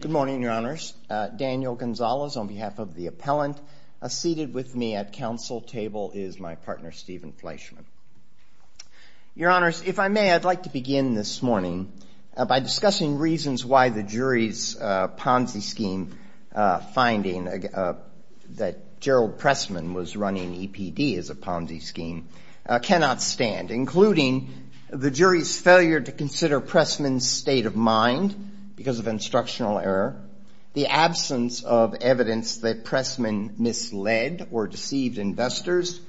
Good morning, your honors. Daniel Gonzalez on behalf of the appellant seated with me at council table is my partner, Stephen Fleischman. Your honors, if I may, I'd like to begin this morning by discussing reasons why the jury's Ponzi scheme finding that Gerald Pressman was running EPD as a Ponzi scheme cannot stand, including the jury's failure to consider Pressman's state of mind because of instructional error, the absence of evidence that Pressman misled or deceived investors,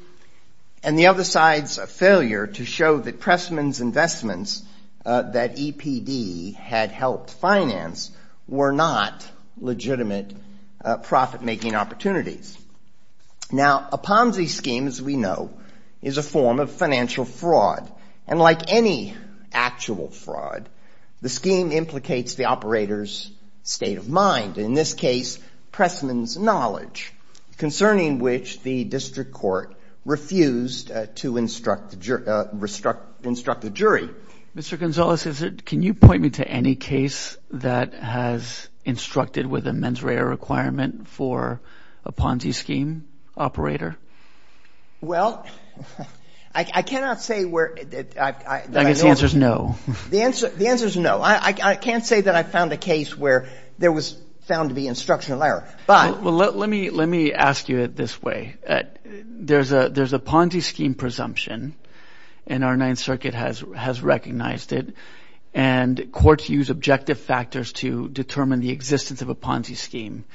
and the other side's failure to show that Pressman's investments that EPD had helped finance were not legitimate profit-making opportunities. Now, a Ponzi scheme, as we know, is a form of financial fraud, and like any actual fraud, the scheme implicates the operator's state of mind, in this case, Pressman's knowledge, concerning which the district court refused to instruct the jury. Mr. Gonzalez, can you point me to any case that has instructed with a mens rea requirement for a Ponzi scheme operator? Well, I cannot say where – I guess the answer is no. The answer is no. I can't say that I found a case where there was found to be instructional error, but – and courts use objective factors to determine the existence of a Ponzi scheme.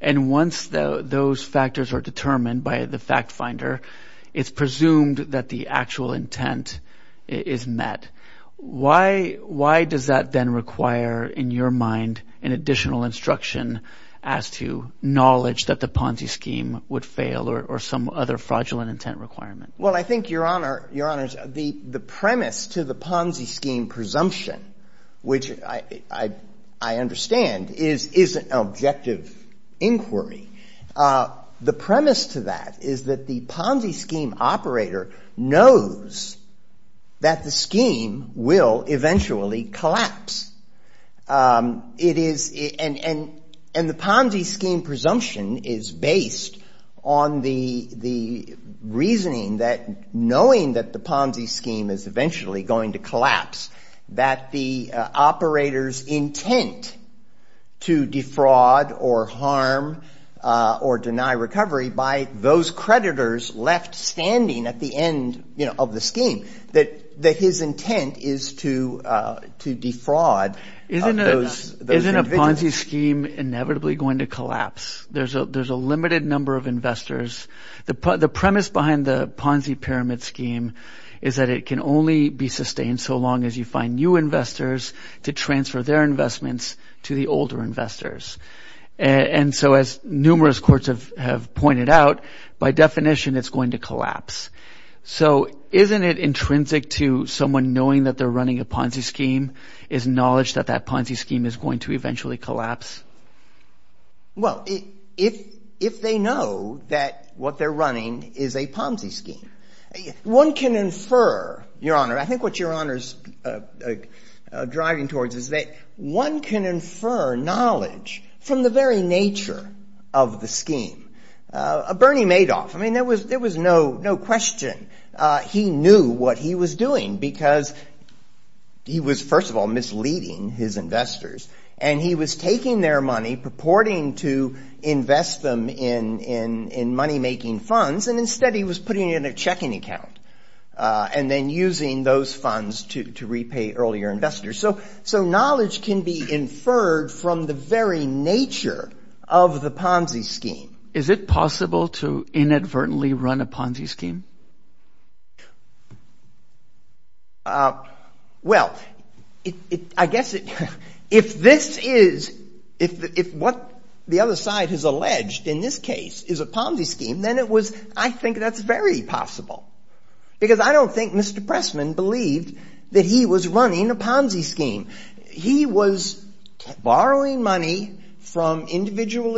And once those factors are determined by the fact finder, it's presumed that the actual intent is met. Why does that then require, in your mind, an additional instruction as to knowledge that the Ponzi scheme would fail or some other fraudulent intent requirement? Well, I think, Your Honor, the premise to the Ponzi scheme presumption, which I understand, is an objective inquiry. The premise to that is that the Ponzi scheme operator knows that the scheme will eventually collapse. It is – and the Ponzi scheme presumption is based on the reasoning that knowing that the Ponzi scheme is eventually going to collapse, that the operator's intent to defraud or harm or deny recovery by those creditors left standing at the end of the scheme, that his intent is to defraud those individuals. Isn't a Ponzi scheme inevitably going to collapse? There's a limited number of investors. The premise behind the Ponzi pyramid scheme is that it can only be sustained so long as you find new investors to transfer their investments to the older investors. And so as numerous courts have pointed out, by definition, it's going to collapse. So isn't it intrinsic to someone knowing that they're running a Ponzi scheme is knowledge that that Ponzi scheme is going to eventually collapse? Well, if they know that what they're running is a Ponzi scheme, one can infer, Your Honor – I think what Your Honor's driving towards is that one can infer knowledge from the very nature of the scheme. Bernie Madoff, I mean, there was no question he knew what he was doing because he was, first of all, misleading his investors, and he was taking their money, purporting to invest them in money-making funds, and instead he was putting it in a checking account and then using those funds to repay earlier investors. So knowledge can be inferred from the very nature of the Ponzi scheme. Is it possible to inadvertently run a Ponzi scheme? Well, I guess if this is – if what the other side has alleged in this case is a Ponzi scheme, then it was – he was borrowing money from individual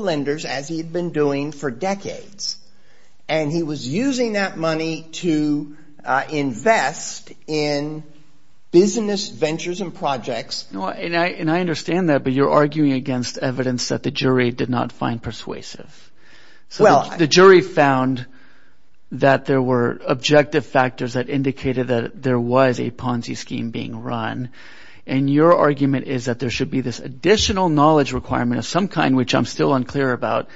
lenders as he had been doing for decades, and he was using that money to invest in business ventures and projects. And I understand that, but you're arguing against evidence that the jury did not find persuasive. So the jury found that there were objective factors that indicated that there was a Ponzi scheme being run, and your argument is that there should be this additional knowledge requirement of some kind, which I'm still unclear about,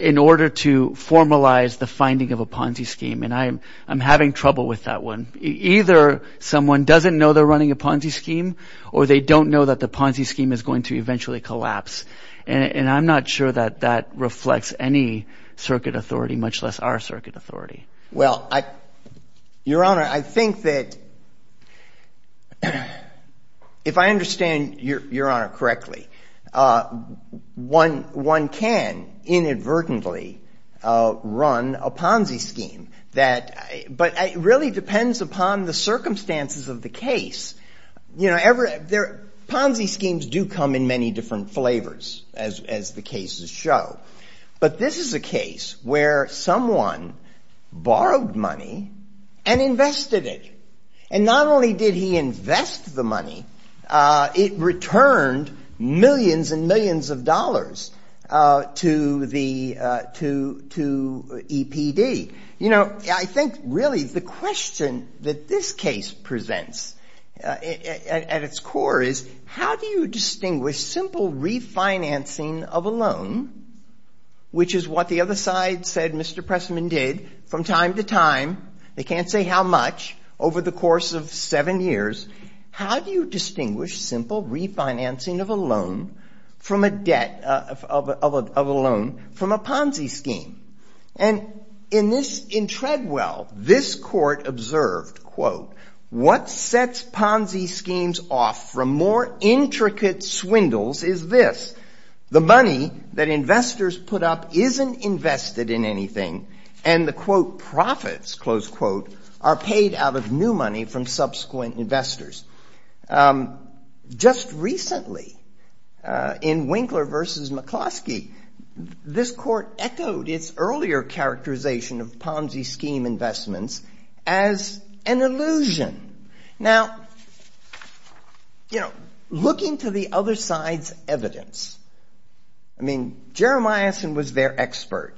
in order to formalize the finding of a Ponzi scheme. And I'm having trouble with that one. Either someone doesn't know they're running a Ponzi scheme or they don't know that the Ponzi scheme is going to eventually collapse, and I'm not sure that that reflects any circuit authority, much less our circuit authority. Well, I – Your Honor, I think that if I understand Your Honor correctly, one can inadvertently run a Ponzi scheme that – but it really depends upon the circumstances of the case. You know, Ponzi schemes do come in many different flavors, as the cases show. But this is a case where someone borrowed money and invested it. And not only did he invest the money, it returned millions and millions of dollars to the – to EPD. You know, I think really the question that this case presents at its core is, how do you distinguish simple refinancing of a loan, which is what the other side said Mr. Pressman did from time to time, they can't say how much, over the course of seven years, how do you distinguish simple refinancing of a loan from a debt of a loan from a Ponzi scheme? And in this – in Treadwell, this court observed, quote, what sets Ponzi schemes off from more intricate swindles is this, the money that investors put up isn't invested in anything, and the, quote, profits, close quote, are paid out of new money from subsequent investors. Just recently, in Winkler v. McCloskey, this court echoed its earlier characterization of Ponzi scheme investments as an illusion. Now, you know, looking to the other side's evidence, I mean, Jeremiahson was their expert,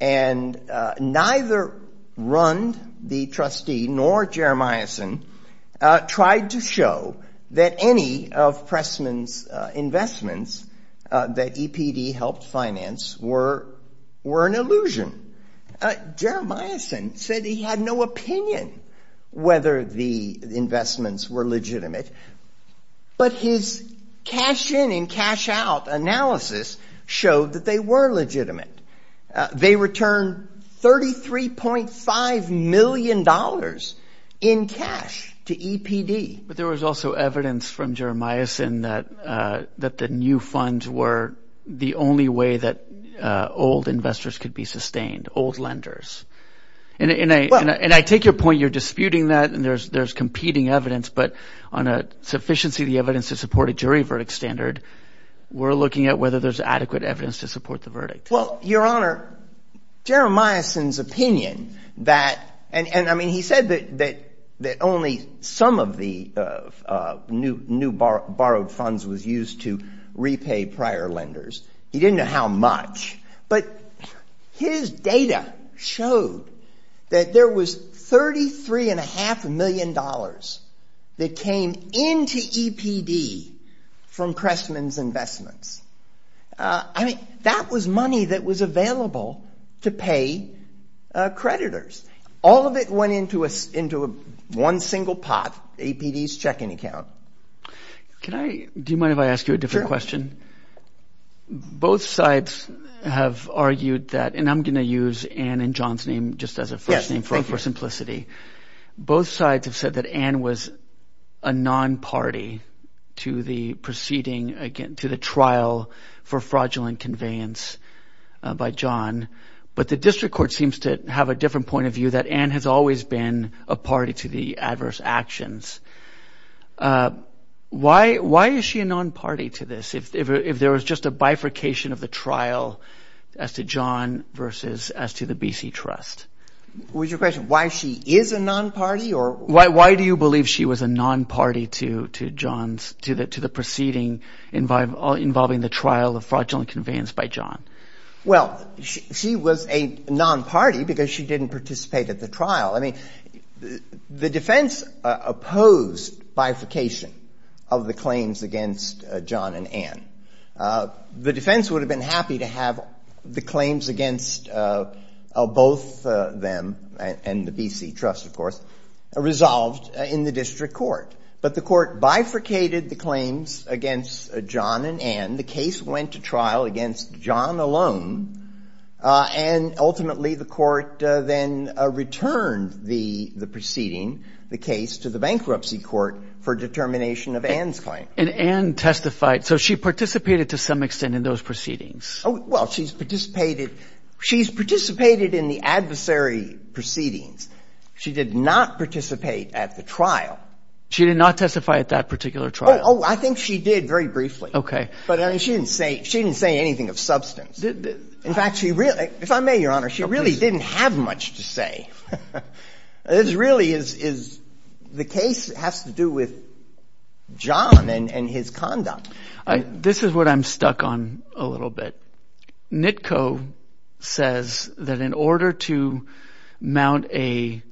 and neither Rund, the trustee, nor Jeremiahson tried to show that any of Pressman's investments that EPD helped finance were an illusion. Jeremiahson said he had no opinion whether the investments were legitimate, but his cash-in and cash-out analysis showed that they were legitimate. They returned $33.5 million in cash to EPD. But there was also evidence from Jeremiahson that the new funds were the only way that old investors could be sustained, old lenders. And I take your point, you're disputing that, and there's competing evidence, but on a sufficiency of the evidence to support a jury verdict standard, we're looking at whether there's adequate evidence to support the verdict. Well, Your Honor, Jeremiahson's opinion that, and I mean, he said that only some of the new borrowed funds was used to repay prior lenders. He didn't know how much. But his data showed that there was $33.5 million that came into EPD from Pressman's investments. I mean, that was money that was available to pay creditors. All of it went into one single pot, EPD's checking account. Can I – do you mind if I ask you a different question? Sure. Both sides have argued that – and I'm going to use Ann and John's name just as a first name for simplicity. Yes, thank you. Both sides have said that Ann was a non-party to the proceeding, again, to the trial for fraudulent conveyance by John. But the district court seems to have a different point of view, that Ann has always been a party to the adverse actions. Why is she a non-party to this if there was just a bifurcation of the trial as to John versus as to the BC Trust? Was your question why she is a non-party or? Why do you believe she was a non-party to John's – to the proceeding involving the trial of fraudulent conveyance by John? Well, she was a non-party because she didn't participate at the trial. I mean, the defense opposed bifurcation of the claims against John and Ann. The defense would have been happy to have the claims against both them and the BC Trust, of course, resolved in the district court. But the court bifurcated the claims against John and Ann. The case went to trial against John alone. And ultimately, the court then returned the proceeding, the case, to the bankruptcy court for determination of Ann's claim. And Ann testified. So she participated to some extent in those proceedings. Well, she's participated in the adversary proceedings. She did not participate at the trial. She did not testify at that particular trial. Oh, I think she did very briefly. Okay. But she didn't say anything of substance. In fact, if I may, Your Honor, she really didn't have much to say. This really is the case has to do with John and his conduct. This is what I'm stuck on a little bit. NITCO says that in order to mount a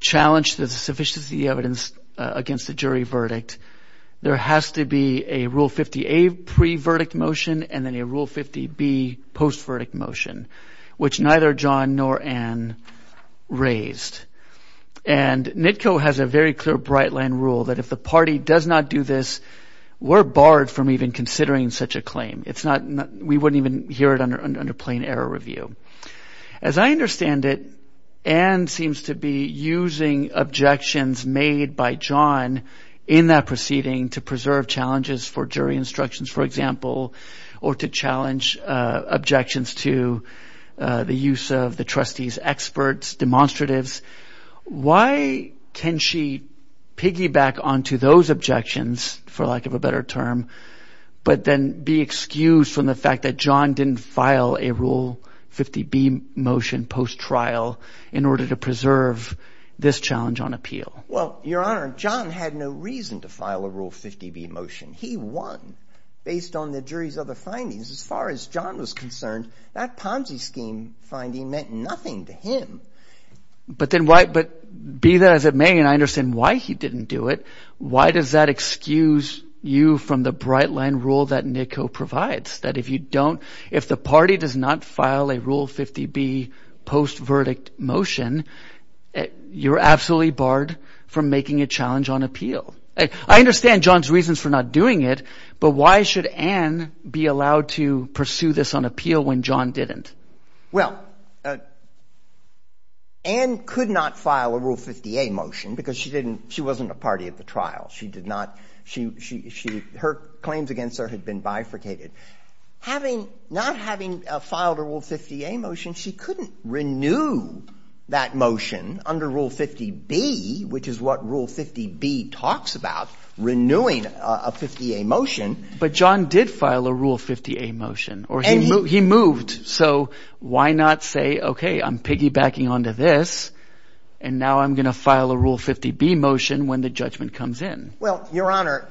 challenge to the sufficiency of the evidence against the jury verdict, there has to be a Rule 50A pre-verdict motion and then a Rule 50B post-verdict motion, which neither John nor Ann raised. And NITCO has a very clear bright line rule that if the party does not do this, we're barred from even considering such a claim. We wouldn't even hear it under plain error review. As I understand it, Ann seems to be using objections made by John in that proceeding to preserve challenges for jury instructions. For example, or to challenge objections to the use of the trustee's experts, demonstratives. Why can she piggyback onto those objections, for lack of a better term, but then be excused from the fact that John didn't file a Rule 50B motion post-trial in order to preserve this challenge on appeal? Well, Your Honor, John had no reason to file a Rule 50B motion. He won based on the jury's other findings. As far as John was concerned, that Ponzi scheme finding meant nothing to him. But be that as it may, and I understand why he didn't do it, why does that excuse you from the bright line rule that NITCO provides? That if the party does not file a Rule 50B post-verdict motion, you're absolutely barred from making a challenge on appeal. I understand John's reasons for not doing it, but why should Ann be allowed to pursue this on appeal when John didn't? Well, Ann could not file a Rule 50A motion because she wasn't a party at the trial. Her claims against her had been bifurcated. Not having filed a Rule 50A motion, she couldn't renew that motion under Rule 50B, which is what Rule 50B talks about, renewing a 50A motion. But John did file a Rule 50A motion, or he moved. So why not say, okay, I'm piggybacking onto this, and now I'm going to file a Rule 50B motion when the judgment comes in? Well, Your Honor,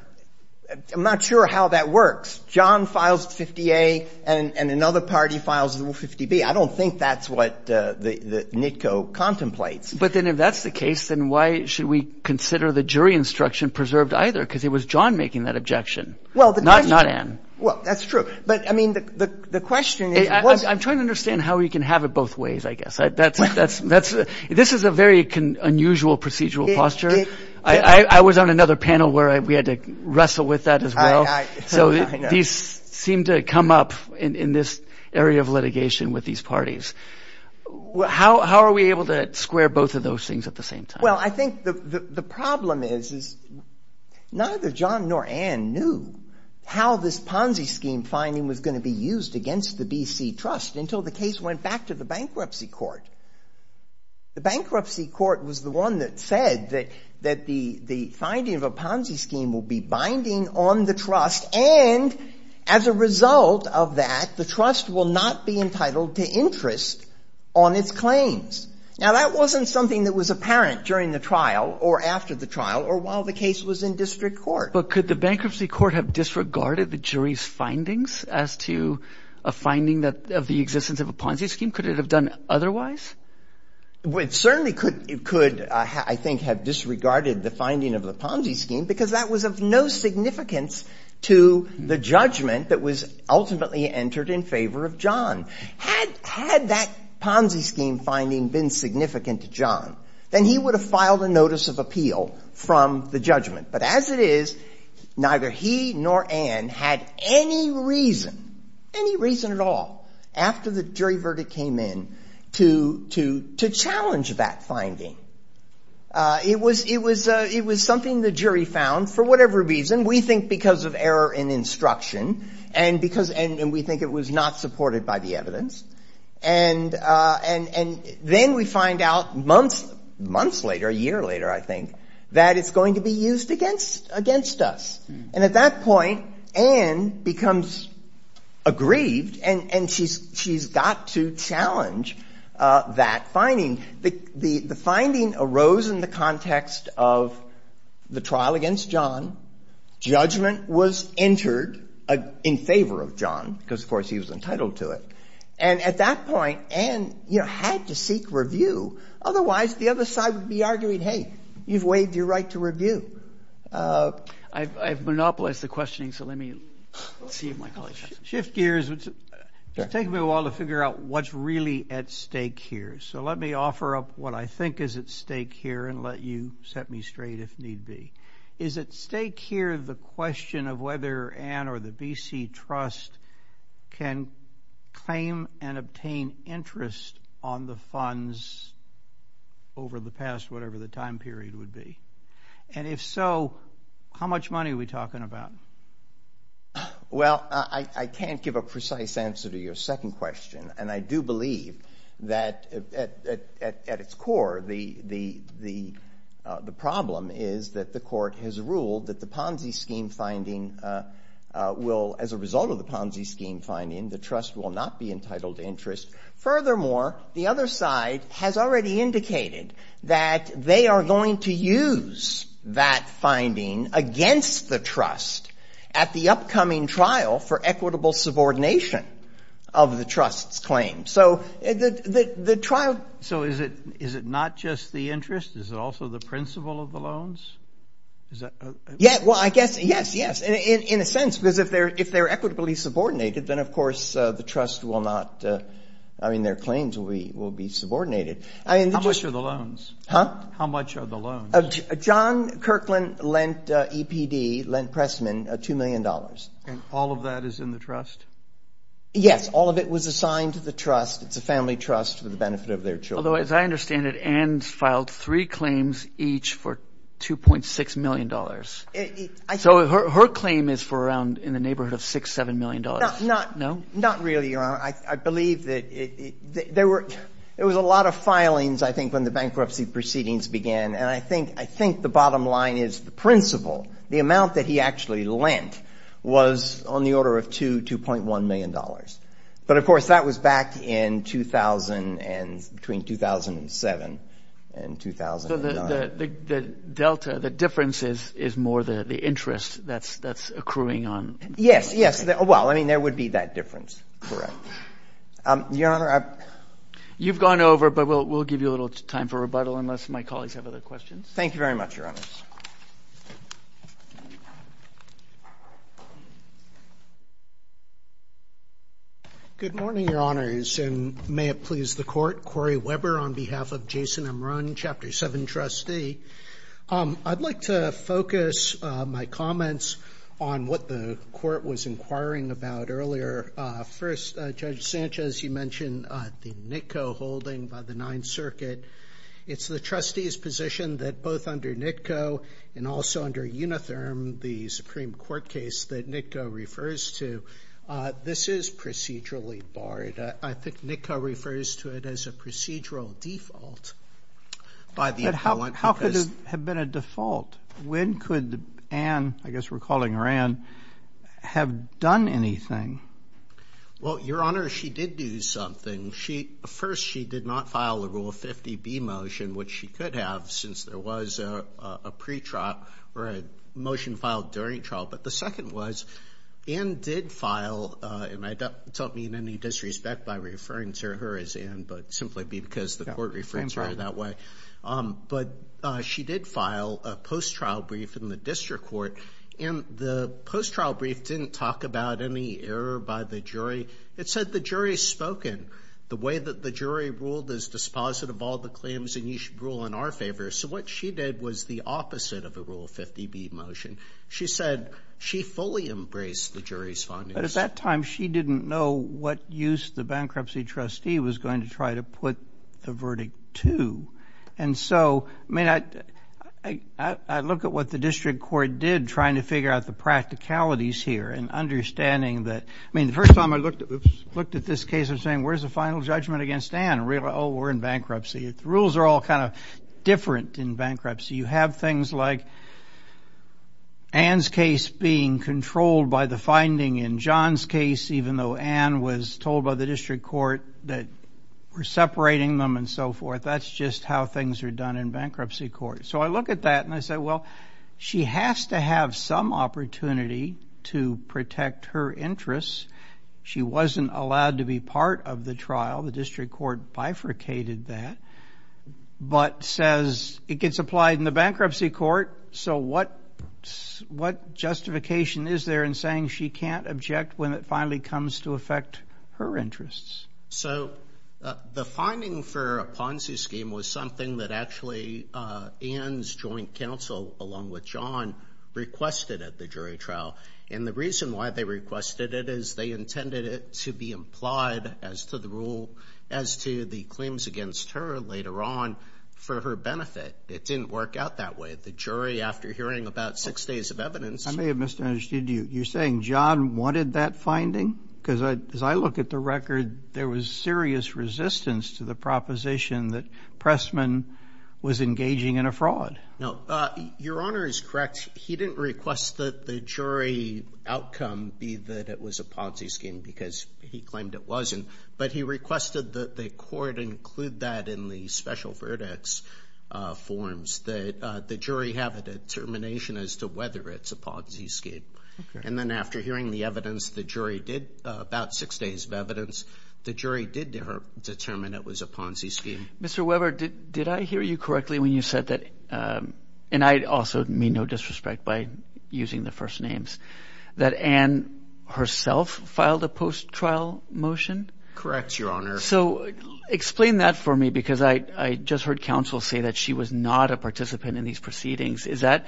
I'm not sure how that works. John files 50A and another party files Rule 50B. I don't think that's what NITCO contemplates. But then if that's the case, then why should we consider the jury instruction preserved either? Because it was John making that objection, not Ann. Well, that's true. But, I mean, the question is what — I'm trying to understand how we can have it both ways, I guess. This is a very unusual procedural posture. I was on another panel where we had to wrestle with that as well. So these seem to come up in this area of litigation with these parties. How are we able to square both of those things at the same time? Well, I think the problem is neither John nor Ann knew how this Ponzi scheme finding was going to be used against the B.C. Trust until the case went back to the bankruptcy court. The bankruptcy court was the one that said that the finding of a Ponzi scheme will be binding on the trust, and as a result of that, the trust will not be entitled to interest on its claims. Now, that wasn't something that was apparent during the trial or after the trial or while the case was in district court. But could the bankruptcy court have disregarded the jury's findings as to a finding of the existence of a Ponzi scheme? Could it have done otherwise? It certainly could, I think, have disregarded the finding of the Ponzi scheme because that was of no significance to the judgment that was ultimately entered in favor of John. Had that Ponzi scheme finding been significant to John, then he would have filed a notice of appeal from the judgment. But as it is, neither he nor Ann had any reason, any reason at all, after the jury verdict came in, to challenge that finding. It was something the jury found, for whatever reason, and we think because of error in instruction, and we think it was not supported by the evidence. And then we find out months later, a year later, I think, that it's going to be used against us. And at that point, Ann becomes aggrieved, and she's got to challenge that finding. The finding arose in the context of the trial against John. Judgment was entered in favor of John because, of course, he was entitled to it. And at that point, Ann had to seek review. Otherwise, the other side would be arguing, hey, you've waived your right to review. I've monopolized the questioning, so let me see if my colleagues have some. Shift gears. It's taken me a while to figure out what's really at stake here, so let me offer up what I think is at stake here and let you set me straight if need be. Is at stake here the question of whether Ann or the B.C. Trust can claim and obtain interest on the funds over the past whatever the time period would be? And if so, how much money are we talking about? Well, I can't give a precise answer to your second question, and I do believe that at its core the problem is that the court has ruled that the Ponzi scheme finding will, as a result of the Ponzi scheme finding, the trust will not be entitled to interest. Furthermore, the other side has already indicated that they are going to use that finding against the trust at the upcoming trial for equitable subordination of the trust's claim. So the trial- So is it not just the interest? Is it also the principle of the loans? Well, I guess, yes, yes, in a sense, because if they're equitably subordinated, then, of course, the trust will not-I mean, their claims will be subordinated. Huh? How much are the loans? John Kirkland lent E.P.D., lent Pressman $2 million. And all of that is in the trust? Yes. All of it was assigned to the trust. It's a family trust for the benefit of their children. Although, as I understand it, Ann's filed three claims each for $2.6 million. So her claim is for around in the neighborhood of $6, $7 million. No. Not really, Your Honor. I believe that there were a lot of filings, I think, when the bankruptcy proceedings began, and I think the bottom line is the principle, the amount that he actually lent, was on the order of $2.1 million. But, of course, that was back in 2000 and-between 2007 and 2009. So the delta, the difference is more the interest that's accruing on- Yes, yes. Well, I mean, there would be that difference. Correct. Your Honor, I- You've gone over, but we'll give you a little time for rebuttal unless my colleagues have other questions. Thank you very much, Your Honors. Good morning, Your Honors, and may it please the Court. Corey Weber on behalf of Jason Amron, Chapter 7 trustee. I'd like to focus my comments on what the Court was inquiring about earlier. First, Judge Sanchez, you mentioned the NITCO holding by the Ninth Circuit. It's the trustee's position that both under NITCO and also under Unitherm, the Supreme Court case that NITCO refers to, this is procedurally barred. I think NITCO refers to it as a procedural default. But how could it have been a default? When could Ann, I guess we're calling her Ann, have done anything? Well, Your Honor, she did do something. First, she did not file the Rule 50B motion, which she could have since there was a motion filed during trial. But the second was Ann did file, and don't mean any disrespect by referring to her as Ann, but simply because the Court referred to her that way. But she did file a post-trial brief in the District Court, and the post-trial brief didn't talk about any error by the jury. It said the jury has spoken. The way that the jury ruled is dispositive of all the claims, and you should rule in our favor. So what she did was the opposite of the Rule 50B motion. She said she fully embraced the jury's findings. But at that time, she didn't know what use the bankruptcy trustee was going to try to put the verdict to. And so, I mean, I look at what the District Court did trying to figure out the practicalities here and understanding that, I mean, the first time I looked at this case, I'm saying, where's the final judgment against Ann? Oh, we're in bankruptcy. The rules are all kind of different in bankruptcy. You have things like Ann's case being controlled by the finding in John's case, even though Ann was told by the District Court that we're separating them and so forth. That's just how things are done in bankruptcy court. So I look at that, and I say, well, she has to have some opportunity to protect her interests. She wasn't allowed to be part of the trial. Well, the District Court bifurcated that, but says it gets applied in the bankruptcy court. So what justification is there in saying she can't object when it finally comes to affect her interests? So the finding for a Ponzi scheme was something that actually Ann's joint counsel, along with John, requested at the jury trial. And the reason why they requested it is they intended it to be implied as to the rule, as to the claims against her later on for her benefit. It didn't work out that way. The jury, after hearing about six days of evidence. I may have misunderstood you. You're saying John wanted that finding? Because as I look at the record, there was serious resistance to the proposition that Pressman was engaging in a fraud. No. Your Honor is correct. He didn't request that the jury outcome be that it was a Ponzi scheme because he claimed it wasn't. But he requested that the court include that in the special verdicts forms, that the jury have a determination as to whether it's a Ponzi scheme. And then after hearing the evidence, the jury did, about six days of evidence, the jury did determine it was a Ponzi scheme. Mr. Weber, did I hear you correctly when you said that? And I also mean no disrespect by using the first names. That Anne herself filed a post-trial motion? Correct, Your Honor. So explain that for me because I just heard counsel say that she was not a participant in these proceedings. Is that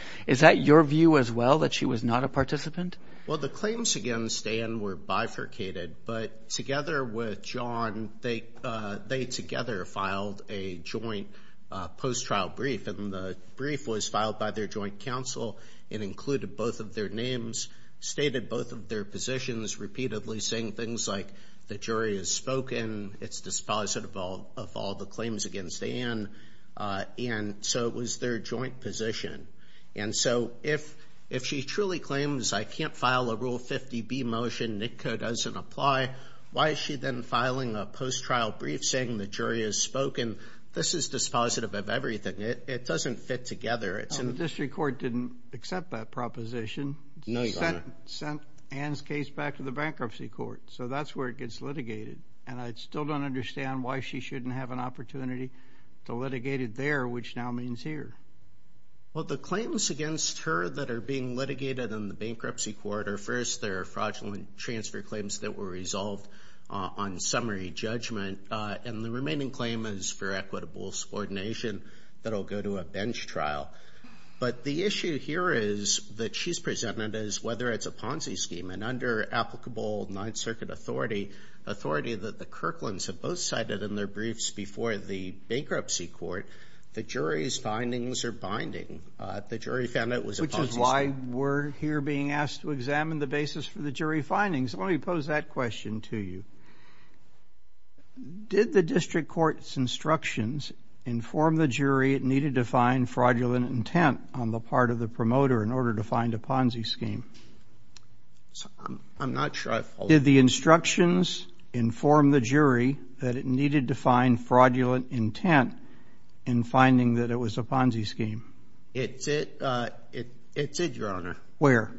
your view as well, that she was not a participant? Well, the claims against Anne were bifurcated. But together with John, they together filed a joint post-trial brief, and the brief was filed by their joint counsel and included both of their names, stated both of their positions repeatedly, saying things like the jury has spoken, it's dispositive of all the claims against Anne, and so it was their joint position. And so if she truly claims I can't file a Rule 50B motion, NICCA doesn't apply, why is she then filing a post-trial brief saying the jury has spoken? This is dispositive of everything. It doesn't fit together. The district court didn't accept that proposition. No, Your Honor. It sent Anne's case back to the bankruptcy court. So that's where it gets litigated. And I still don't understand why she shouldn't have an opportunity to litigate it there, which now means here. Well, the claims against her that are being litigated in the bankruptcy court are, first, they're fraudulent transfer claims that were resolved on summary judgment, and the remaining claim is for equitable subordination that will go to a bench trial. But the issue here is that she's presented as, whether it's a Ponzi scheme, an under-applicable Ninth Circuit authority, authority that the Kirklands have both cited in their briefs before the bankruptcy court, the jury's findings are binding. The jury found that it was a Ponzi scheme. Which is why we're here being asked to examine the basis for the jury findings. Let me pose that question to you. Did the district court's instructions inform the jury it needed to find fraudulent intent on the part of the promoter in order to find a Ponzi scheme? I'm not sure I follow. Did the instructions inform the jury that it needed to find fraudulent intent in finding that it was a Ponzi scheme? It did, Your Honor. Where?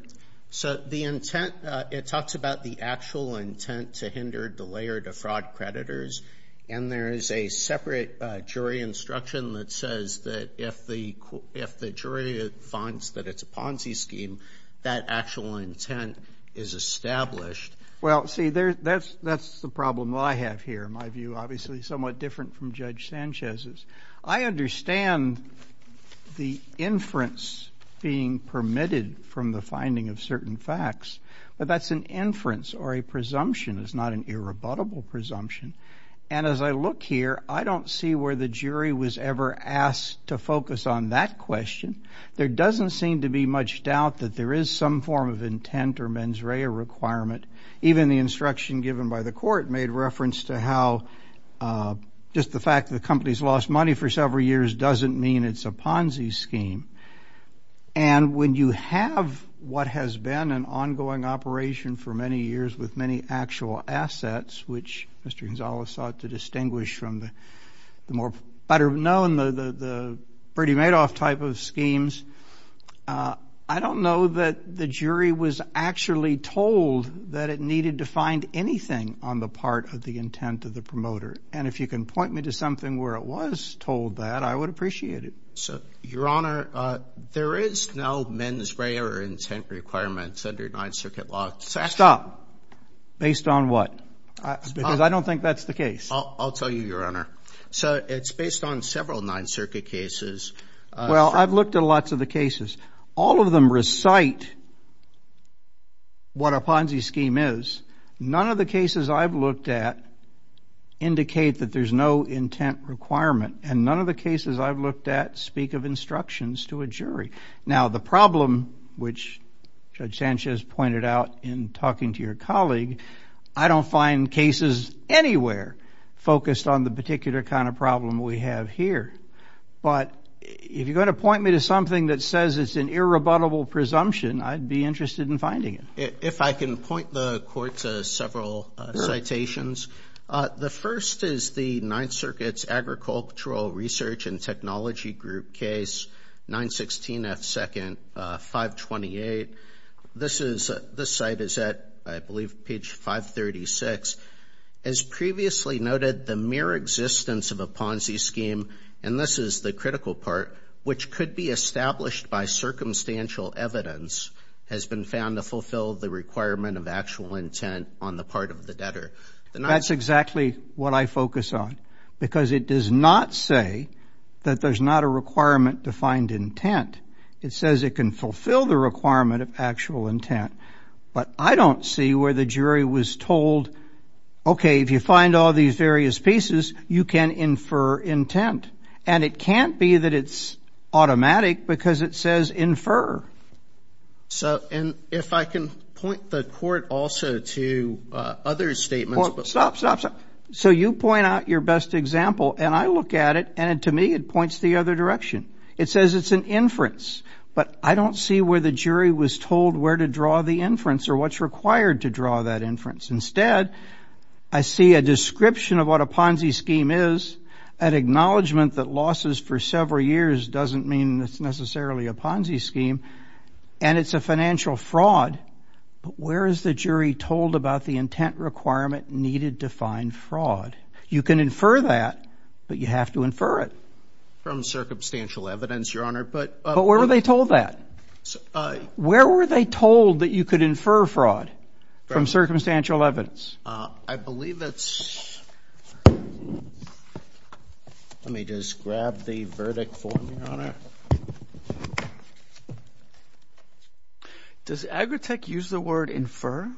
So the intent, it talks about the actual intent to hinder, delay, or defraud creditors, and there is a separate jury instruction that says that if the jury finds that it's a Ponzi scheme, that actual intent is established. Well, see, that's the problem I have here. My view, obviously, is somewhat different from Judge Sanchez's. I understand the inference being permitted from the finding of certain facts, but that's an inference or a presumption. It's not an irrebuttable presumption. And as I look here, I don't see where the jury was ever asked to focus on that question. There doesn't seem to be much doubt that there is some form of intent or mens rea requirement. Even the instruction given by the court made reference to how just the fact that the company's lost money for several years doesn't mean it's a Ponzi scheme. And when you have what has been an ongoing operation for many years with many actual assets, which Mr. Gonzales sought to distinguish from the more better known, the Brady-Madoff type of schemes, I don't know that the jury was actually told that it needed to find anything on the part of the intent of the promoter. And if you can point me to something where it was told that, I would appreciate it. Your Honor, there is no mens re or intent requirement under Ninth Circuit law. Stop. Based on what? Because I don't think that's the case. I'll tell you, Your Honor. So it's based on several Ninth Circuit cases. Well, I've looked at lots of the cases. All of them recite what a Ponzi scheme is. None of the cases I've looked at indicate that there's no intent requirement. And none of the cases I've looked at speak of instructions to a jury. Now, the problem, which Judge Sanchez pointed out in talking to your colleague, I don't find cases anywhere focused on the particular kind of problem we have here. But if you're going to point me to something that says it's an irrebuttable presumption, I'd be interested in finding it. If I can point the Court to several citations. The first is the Ninth Circuit's Agricultural Research and Technology Group case, 916 F. 2nd, 528. This site is at, I believe, page 536. As previously noted, the mere existence of a Ponzi scheme, and this is the critical part, which could be established by circumstantial evidence, has been found to fulfill the requirement of actual intent on the part of the debtor. That's exactly what I focus on. Because it does not say that there's not a requirement to find intent. It says it can fulfill the requirement of actual intent. But I don't see where the jury was told, okay, if you find all these various pieces, you can infer intent. And it can't be that it's automatic because it says infer. And if I can point the Court also to other statements. Stop, stop, stop. So you point out your best example, and I look at it, and to me it points the other direction. It says it's an inference. But I don't see where the jury was told where to draw the inference or what's required to draw that inference. Instead, I see a description of what a Ponzi scheme is, an acknowledgment that losses for several years doesn't mean it's necessarily a Ponzi scheme, and it's a financial fraud. But where is the jury told about the intent requirement needed to find fraud? You can infer that, but you have to infer it. From circumstantial evidence, Your Honor. But where were they told that? Where were they told that you could infer fraud from circumstantial evidence? I believe it's, let me just grab the verdict for me, Your Honor. Does Agritech use the word infer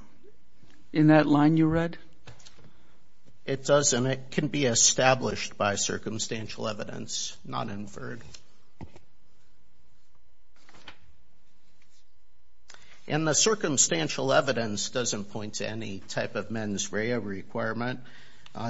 in that line you read? It doesn't. It can be established by circumstantial evidence, not inferred. And the circumstantial evidence doesn't point to any type of mens rea requirement,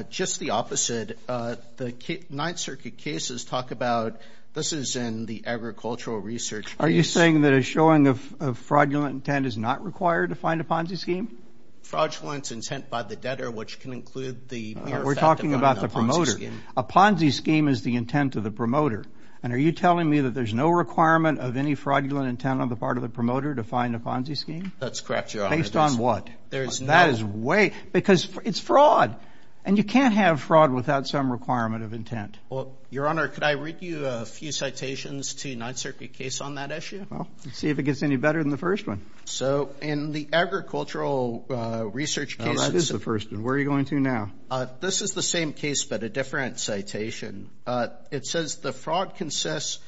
just the opposite. The Ninth Circuit cases talk about this is in the agricultural research case. Are you saying that a showing of fraudulent intent is not required to find a Ponzi scheme? Fraudulent intent by the debtor, which can include the mere fact of owning a Ponzi scheme. We're talking about the promoter. A Ponzi scheme is the intent of the promoter. And are you telling me that there's no requirement of any fraudulent intent on the part of the promoter to find a Ponzi scheme? That's correct, Your Honor. Based on what? There is no. That is way, because it's fraud. And you can't have fraud without some requirement of intent. Well, Your Honor, could I read you a few citations to Ninth Circuit case on that issue? Well, let's see if it gets any better than the first one. So in the agricultural research case. Oh, that is the first one. Where are you going to now? This is the same case but a different citation. It says the fraud consists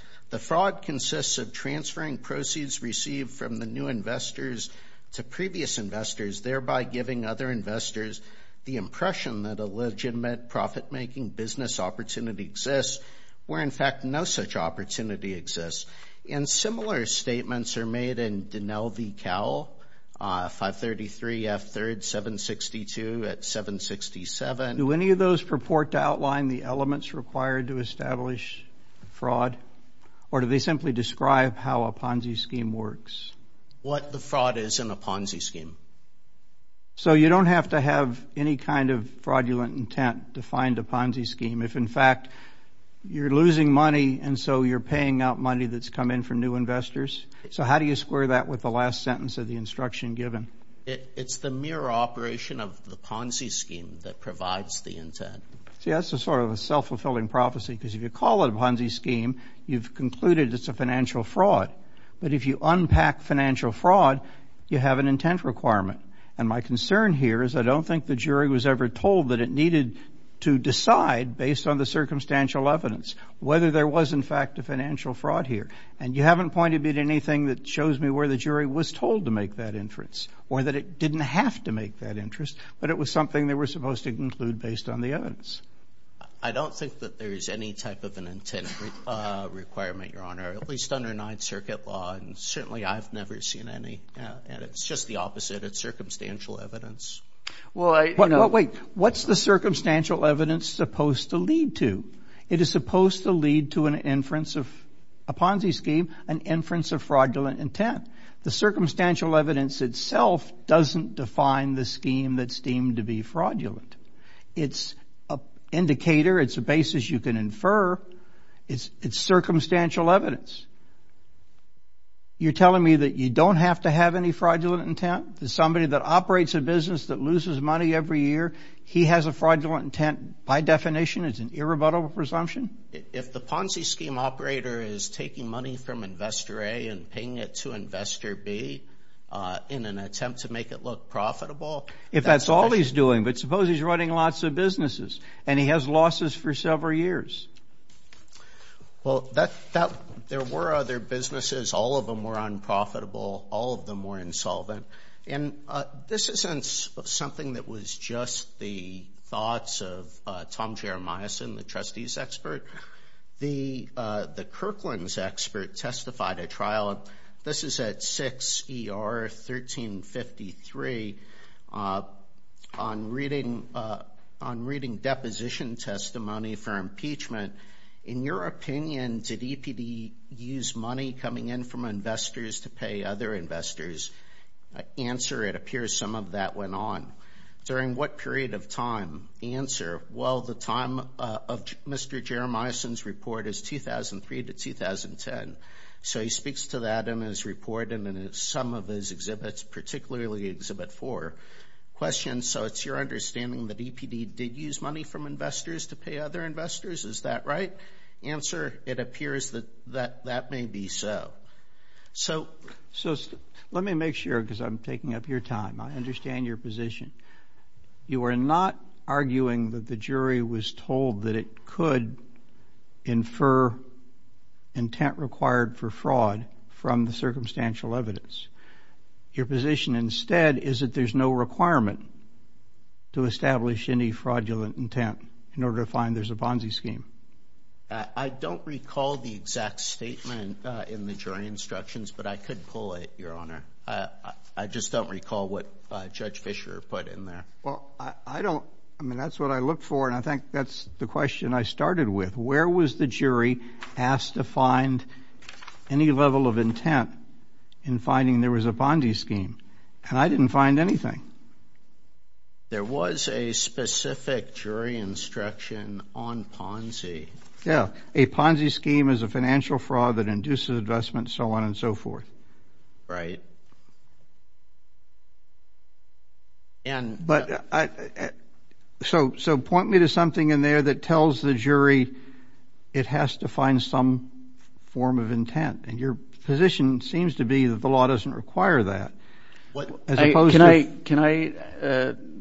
of transferring proceeds received from the new investors to previous investors, thereby giving other investors the impression that a legitimate profit-making business opportunity exists, where, in fact, no such opportunity exists. And similar statements are made in Dinell v. Cowell, 533 F3rd 762 at 767. Do any of those purport to outline the elements required to establish fraud? Or do they simply describe how a Ponzi scheme works? What the fraud is in a Ponzi scheme. So you don't have to have any kind of fraudulent intent to find a Ponzi scheme. If, in fact, you're losing money and so you're paying out money that's come in from new investors. So how do you square that with the last sentence of the instruction given? It's the mere operation of the Ponzi scheme that provides the intent. See, that's sort of a self-fulfilling prophecy because if you call it a Ponzi scheme, you've concluded it's a financial fraud. But if you unpack financial fraud, you have an intent requirement. And my concern here is I don't think the jury was ever told that it needed to decide, based on the circumstantial evidence, whether there was, in fact, a financial fraud here. And you haven't pointed me to anything that shows me where the jury was told to make that inference or that it didn't have to make that inference, but it was something they were supposed to conclude based on the evidence. I don't think that there is any type of an intent requirement, Your Honor, at least under Ninth Circuit law, and certainly I've never seen any. And it's just the opposite. It's circumstantial evidence. Wait. What's the circumstantial evidence supposed to lead to? It is supposed to lead to an inference of a Ponzi scheme, an inference of fraudulent intent. The circumstantial evidence itself doesn't define the scheme that's deemed to be fraudulent. It's an indicator. It's a basis you can infer. It's circumstantial evidence. You're telling me that you don't have to have any fraudulent intent? Somebody that operates a business that loses money every year, he has a fraudulent intent? By definition, it's an irrebuttable presumption? If the Ponzi scheme operator is taking money from Investor A and paying it to Investor B in an attempt to make it look profitable? If that's all he's doing, but suppose he's running lots of businesses and he has losses for several years. Well, there were other businesses. All of them were unprofitable. All of them were insolvent. And this isn't something that was just the thoughts of Tom Jeremiahson, the trustee's expert. The Kirkland's expert testified at trial. This is at 6 ER 1353. On reading deposition testimony for impeachment, in your opinion, did EPD use money coming in from investors to pay other investors? Answer, it appears some of that went on. During what period of time? Answer. Well, the time of Mr. Jeremiahson's report is 2003 to 2010. So he speaks to that in his report and in some of his exhibits, particularly Exhibit 4 questions. So it's your understanding that EPD did use money from investors to pay other investors? Is that right? Answer, it appears that that may be so. So let me make sure, because I'm taking up your time. I understand your position. You are not arguing that the jury was told that it could infer intent required for fraud from the circumstantial evidence. Your position instead is that there's no requirement to establish any fraudulent intent in order to find there's a Ponzi scheme. I don't recall the exact statement in the jury instructions, but I could pull it, Your Honor. I just don't recall what Judge Fischer put in there. Well, I don't. I mean, that's what I look for, and I think that's the question I started with. Where was the jury asked to find any level of intent in finding there was a Ponzi scheme? And I didn't find anything. There was a specific jury instruction on Ponzi. Yeah, a Ponzi scheme is a financial fraud that induces investment, so on and so forth. Right. But so point me to something in there that tells the jury it has to find some form of intent, and your position seems to be that the law doesn't require that. Can I,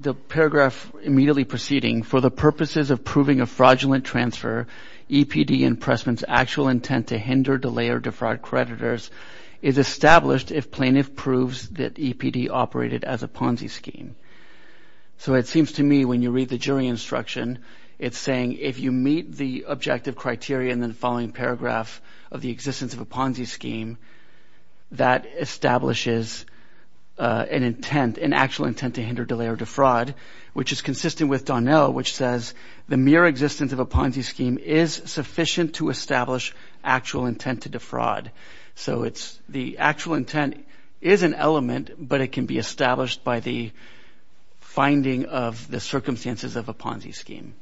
the paragraph immediately preceding, of proving a fraudulent transfer, EPD and Pressman's actual intent to hinder, delay, or defraud creditors, is established if plaintiff proves that EPD operated as a Ponzi scheme. So it seems to me when you read the jury instruction, it's saying if you meet the objective criteria in the following paragraph of the existence of a Ponzi scheme, that establishes an intent, an actual intent to hinder, delay, or defraud, which is consistent with Donnell, which says the mere existence of a Ponzi scheme is sufficient to establish actual intent to defraud. So it's the actual intent is an element, but it can be established by the finding of the circumstances of a Ponzi scheme.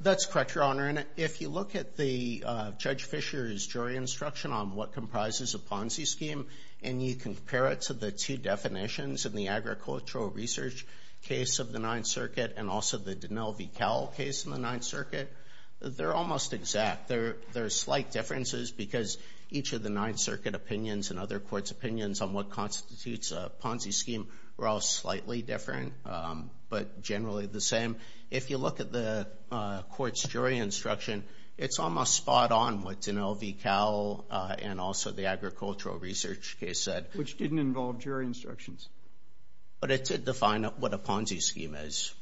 That's correct, Your Honor. And if you look at the Judge Fisher's jury instruction on what comprises a Ponzi scheme, and you compare it to the two definitions in the Agricultural Research case of the Ninth Circuit and also the Donnell v. Cowell case in the Ninth Circuit, they're almost exact. There are slight differences because each of the Ninth Circuit opinions and other courts' opinions on what constitutes a Ponzi scheme were all slightly different, but generally the same. If you look at the court's jury instruction, it's almost spot on what Donnell v. Cowell and also the Agricultural Research case said. Which didn't involve jury instructions. But it did define what a Ponzi scheme is.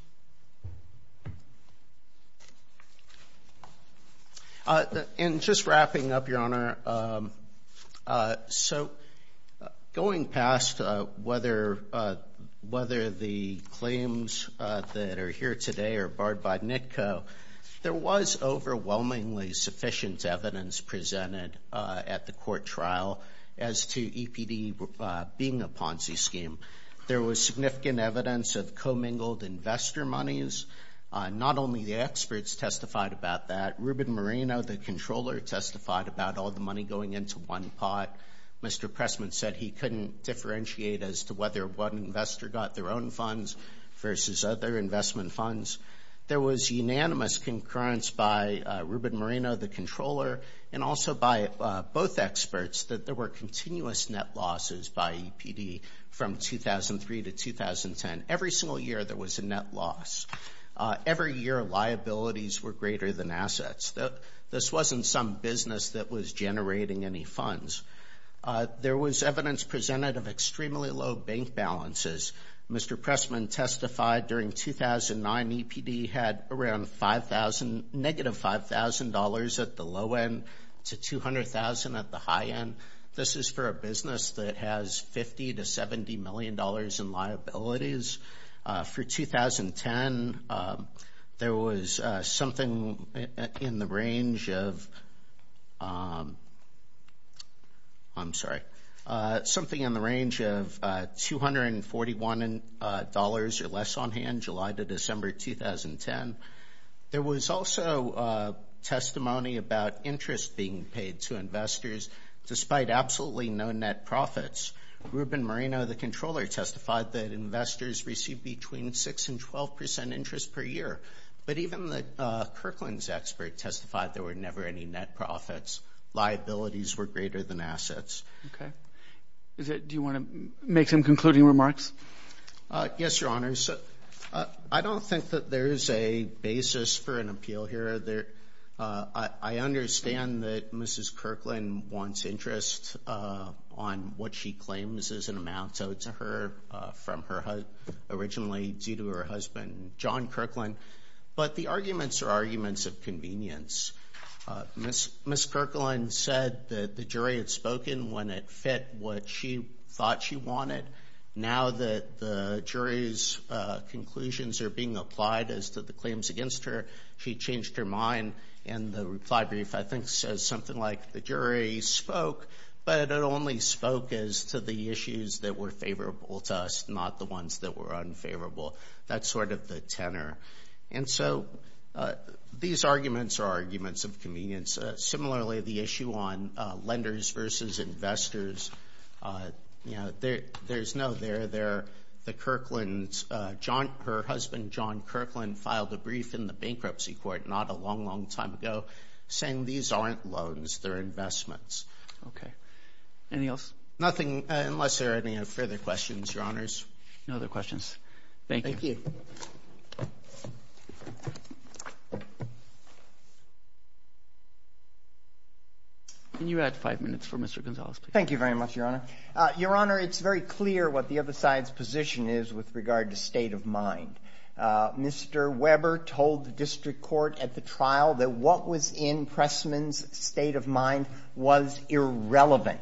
And just wrapping up, Your Honor, so going past whether the claims that are here today are barred by NITCO, there was overwhelmingly sufficient evidence presented at the court trial as to EPD being a Ponzi scheme. There was significant evidence of commingled investor monies. Not only the experts testified about that. Ruben Moreno, the controller, testified about all the money going into one pot. Mr. Pressman said he couldn't differentiate as to whether one investor got their own funds versus other investment funds. There was unanimous concurrence by Ruben Moreno, the controller, and also by both experts that there were continuous net losses by EPD from 2003 to 2010. Every single year there was a net loss. Every year liabilities were greater than assets. This wasn't some business that was generating any funds. There was evidence presented of extremely low bank balances. Mr. Pressman testified during 2009 EPD had around $5,000, negative $5,000 at the low end to $200,000 at the high end. This is for a business that has $50 million to $70 million in liabilities. For 2010 there was something in the range of $241 or less on hand July to December 2010. There was also testimony about interest being paid to investors despite absolutely no net profits. Ruben Moreno, the controller, testified that investors received between 6% and 12% interest per year, but even the Kirkland's expert testified there were never any net profits. Liabilities were greater than assets. Okay. Do you want to make some concluding remarks? Yes, Your Honors. I don't think that there is a basis for an appeal here. I understand that Mrs. Kirkland wants interest on what she claims is an amount owed to her from her husband, originally due to her husband, John Kirkland, but the arguments are arguments of convenience. Ms. Kirkland said that the jury had spoken when it fit what she thought she wanted. Now that the jury's conclusions are being applied as to the claims against her, she changed her mind, and the reply brief I think says something like the jury spoke, but it only spoke as to the issues that were favorable to us, not the ones that were unfavorable. That's sort of the tenor. And so these arguments are arguments of convenience. Similarly, the issue on lenders versus investors, you know, there's no there. The Kirkland's, her husband, John Kirkland, filed a brief in the bankruptcy court not a long, long time ago, saying these aren't loans, they're investments. Okay. Anything else? Nothing, unless there are any further questions, Your Honors. No other questions. Thank you. Thank you. Can you add five minutes for Mr. Gonzales, please? Thank you very much, Your Honor. Your Honor, it's very clear what the other side's position is with regard to state of mind. Mr. Weber told the district court at the trial that what was in Pressman's state of mind was irrelevant.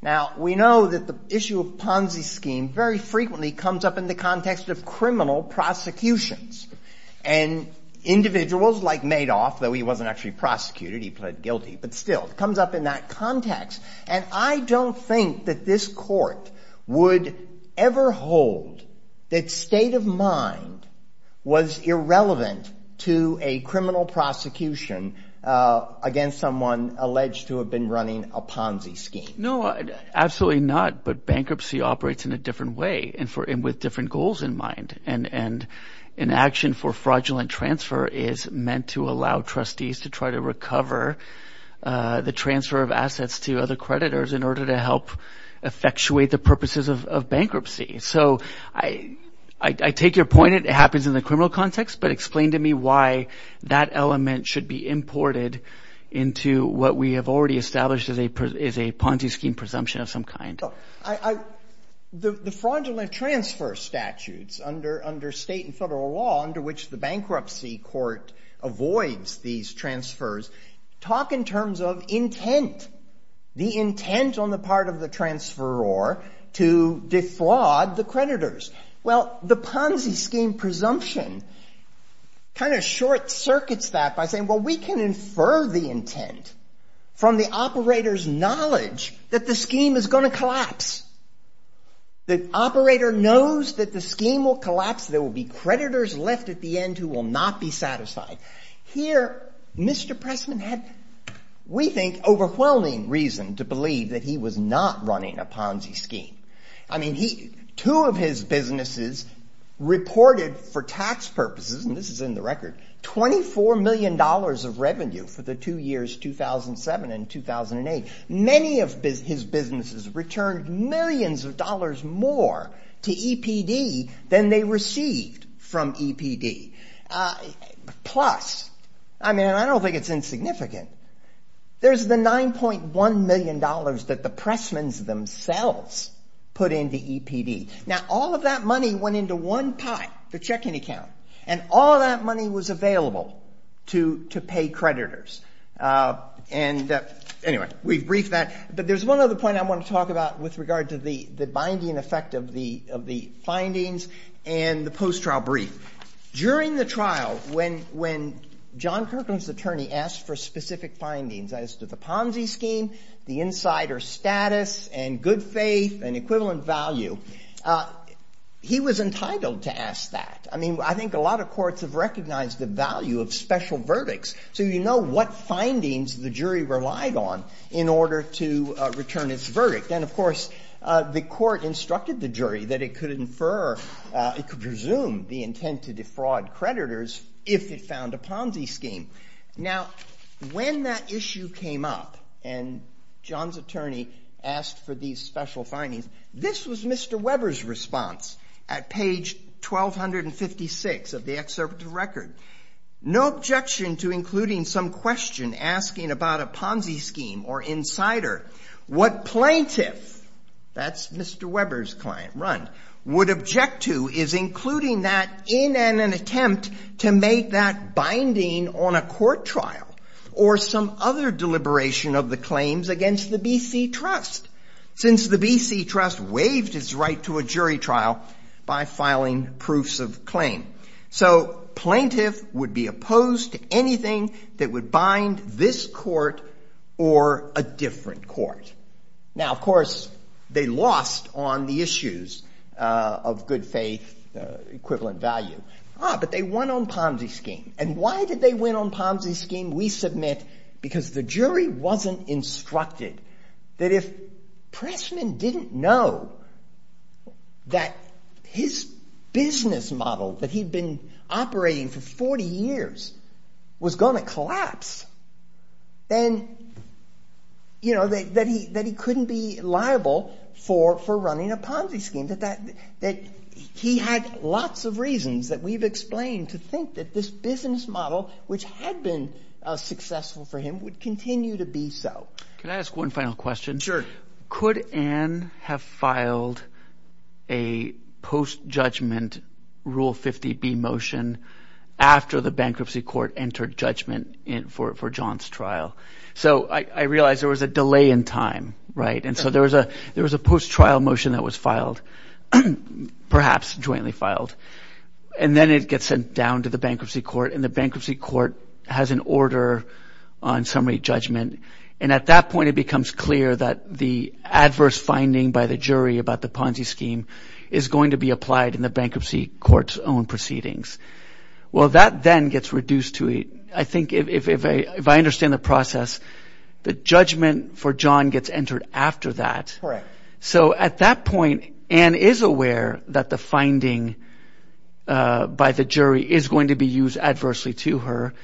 Now, we know that the issue of Ponzi scheme very frequently comes up in the context of criminal prosecutions, and individuals like Madoff, though he wasn't actually prosecuted, he pled guilty, but still, it comes up in that context. And I don't think that this court would ever hold that state of mind was irrelevant to a criminal prosecution against someone alleged to have been running a Ponzi scheme. No, absolutely not. But bankruptcy operates in a different way and with different goals in mind. And an action for fraudulent transfer is meant to allow trustees to try to recover the transfer of assets to other creditors in order to help effectuate the purposes of bankruptcy. So I take your point. It happens in the criminal context, but explain to me why that element should be imported into what we have already established as a Ponzi scheme presumption of some kind. The fraudulent transfer statutes under state and federal law under which the bankruptcy court avoids these transfers talk in terms of intent, the intent on the part of the transferor to defraud the creditors. Well, the Ponzi scheme presumption kind of short circuits that by saying, well, we can infer the intent from the operator's knowledge that the scheme is going to collapse. The operator knows that the scheme will collapse. There will be creditors left at the end who will not be satisfied. Here, Mr. Pressman had, we think, overwhelming reason to believe that he was not running a Ponzi scheme. I mean, two of his businesses reported for tax purposes, and this is in the record, $24 million of revenue for the two years 2007 and 2008. Many of his businesses returned millions of dollars more to EPD than they received from EPD. Plus, I mean, I don't think it's insignificant. There's the $9.1 million that the Pressmans themselves put into EPD. Now, all of that money went into one pot, the checking account, and all of that money was available to pay creditors. And anyway, we've briefed that. But there's one other point I want to talk about with regard to the binding effect of the findings and the post-trial brief. During the trial, when John Kirkland's attorney asked for specific findings as to the Ponzi scheme, the insider status and good faith and equivalent value, he was entitled to ask that. I mean, I think a lot of courts have recognized the value of special verdicts, so you know what findings the jury relied on in order to return its verdict. And, of course, the court instructed the jury that it could infer, it could presume the intent to defraud creditors if it found a Ponzi scheme. Now, when that issue came up and John's attorney asked for these special findings, this was Mr. Weber's response at page 1256 of the excerpt of the record. No objection to including some question asking about a Ponzi scheme or insider. What plaintiff, that's Mr. Weber's client, Rund, would object to is including that in an attempt to make that binding on a court trial or some other deliberation of the claims against the B.C. Trust, since the B.C. Trust waived its right to a jury trial by filing proofs of claim. So plaintiff would be opposed to anything that would bind this court or a different court. Now, of course, they lost on the issues of good faith, equivalent value. Ah, but they won on Ponzi scheme. And why did they win on Ponzi scheme, we submit, because the jury wasn't instructed that if Pressman didn't know that his business model that he'd been operating for 40 years was going to collapse, then, you know, that he couldn't be liable for running a Ponzi scheme. That he had lots of reasons that we've explained to think that this business model, which had been successful for him, would continue to be so. Can I ask one final question? Sure. Could Ann have filed a post-judgment Rule 50B motion after the bankruptcy court entered judgment for John's trial? So I realize there was a delay in time, right? And so there was a post-trial motion that was filed, perhaps jointly filed. And then it gets sent down to the bankruptcy court. And the bankruptcy court has an order on summary judgment. And at that point, it becomes clear that the adverse finding by the jury about the Ponzi scheme is going to be applied in the bankruptcy court's own proceedings. Well, that then gets reduced to a, I think, if I understand the process, the judgment for John gets entered after that. Correct. So at that point, Ann is aware that the finding by the jury is going to be used adversely to her.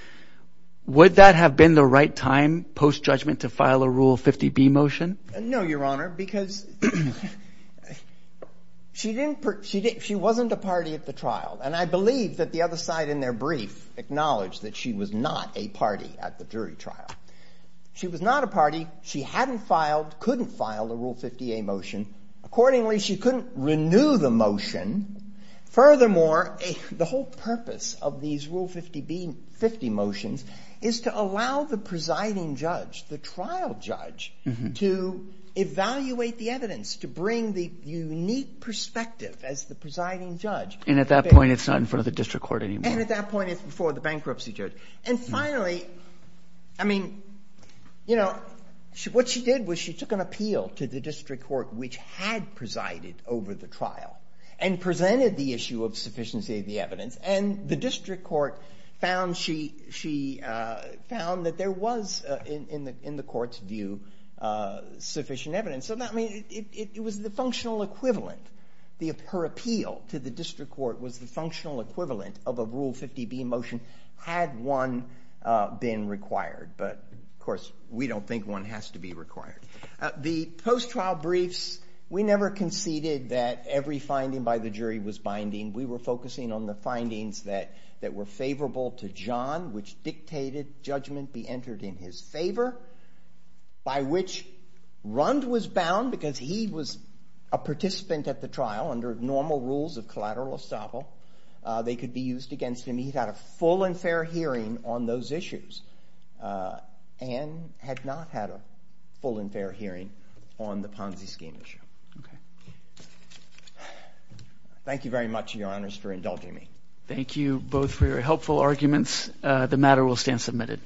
Would that have been the right time, post-judgment, to file a Rule 50B motion? No, Your Honor, because she wasn't a party at the trial. And I believe that the other side in their brief acknowledged that she was not a party at the jury trial. She was not a party. She hadn't filed, couldn't file a Rule 50A motion. Accordingly, she couldn't renew the motion. Furthermore, the whole purpose of these Rule 50 motions is to allow the presiding judge, the trial judge, to evaluate the evidence, to bring the unique perspective as the presiding judge. And at that point, it's not in front of the district court anymore. And at that point, it's before the bankruptcy judge. And finally, I mean, you know, what she did was she took an appeal to the district court, which had presided over the trial, and presented the issue of sufficiency of the evidence. And the district court found she found that there was, in the court's view, sufficient evidence. I mean, it was the functional equivalent. Her appeal to the district court was the functional equivalent of a Rule 50B motion had one been required. But, of course, we don't think one has to be required. The post-trial briefs, we never conceded that every finding by the jury was binding. We were focusing on the findings that were favorable to John, which dictated judgment be entered in his favor, by which Rund was bound because he was a participant at the trial under normal rules of collateral estoppel. They could be used against him. He had a full and fair hearing on those issues and had not had a full and fair hearing on the Ponzi scheme issue. Okay. Thank you very much, Your Honors, for indulging me. Thank you both for your helpful arguments. The matter will stand submitted. Thank you.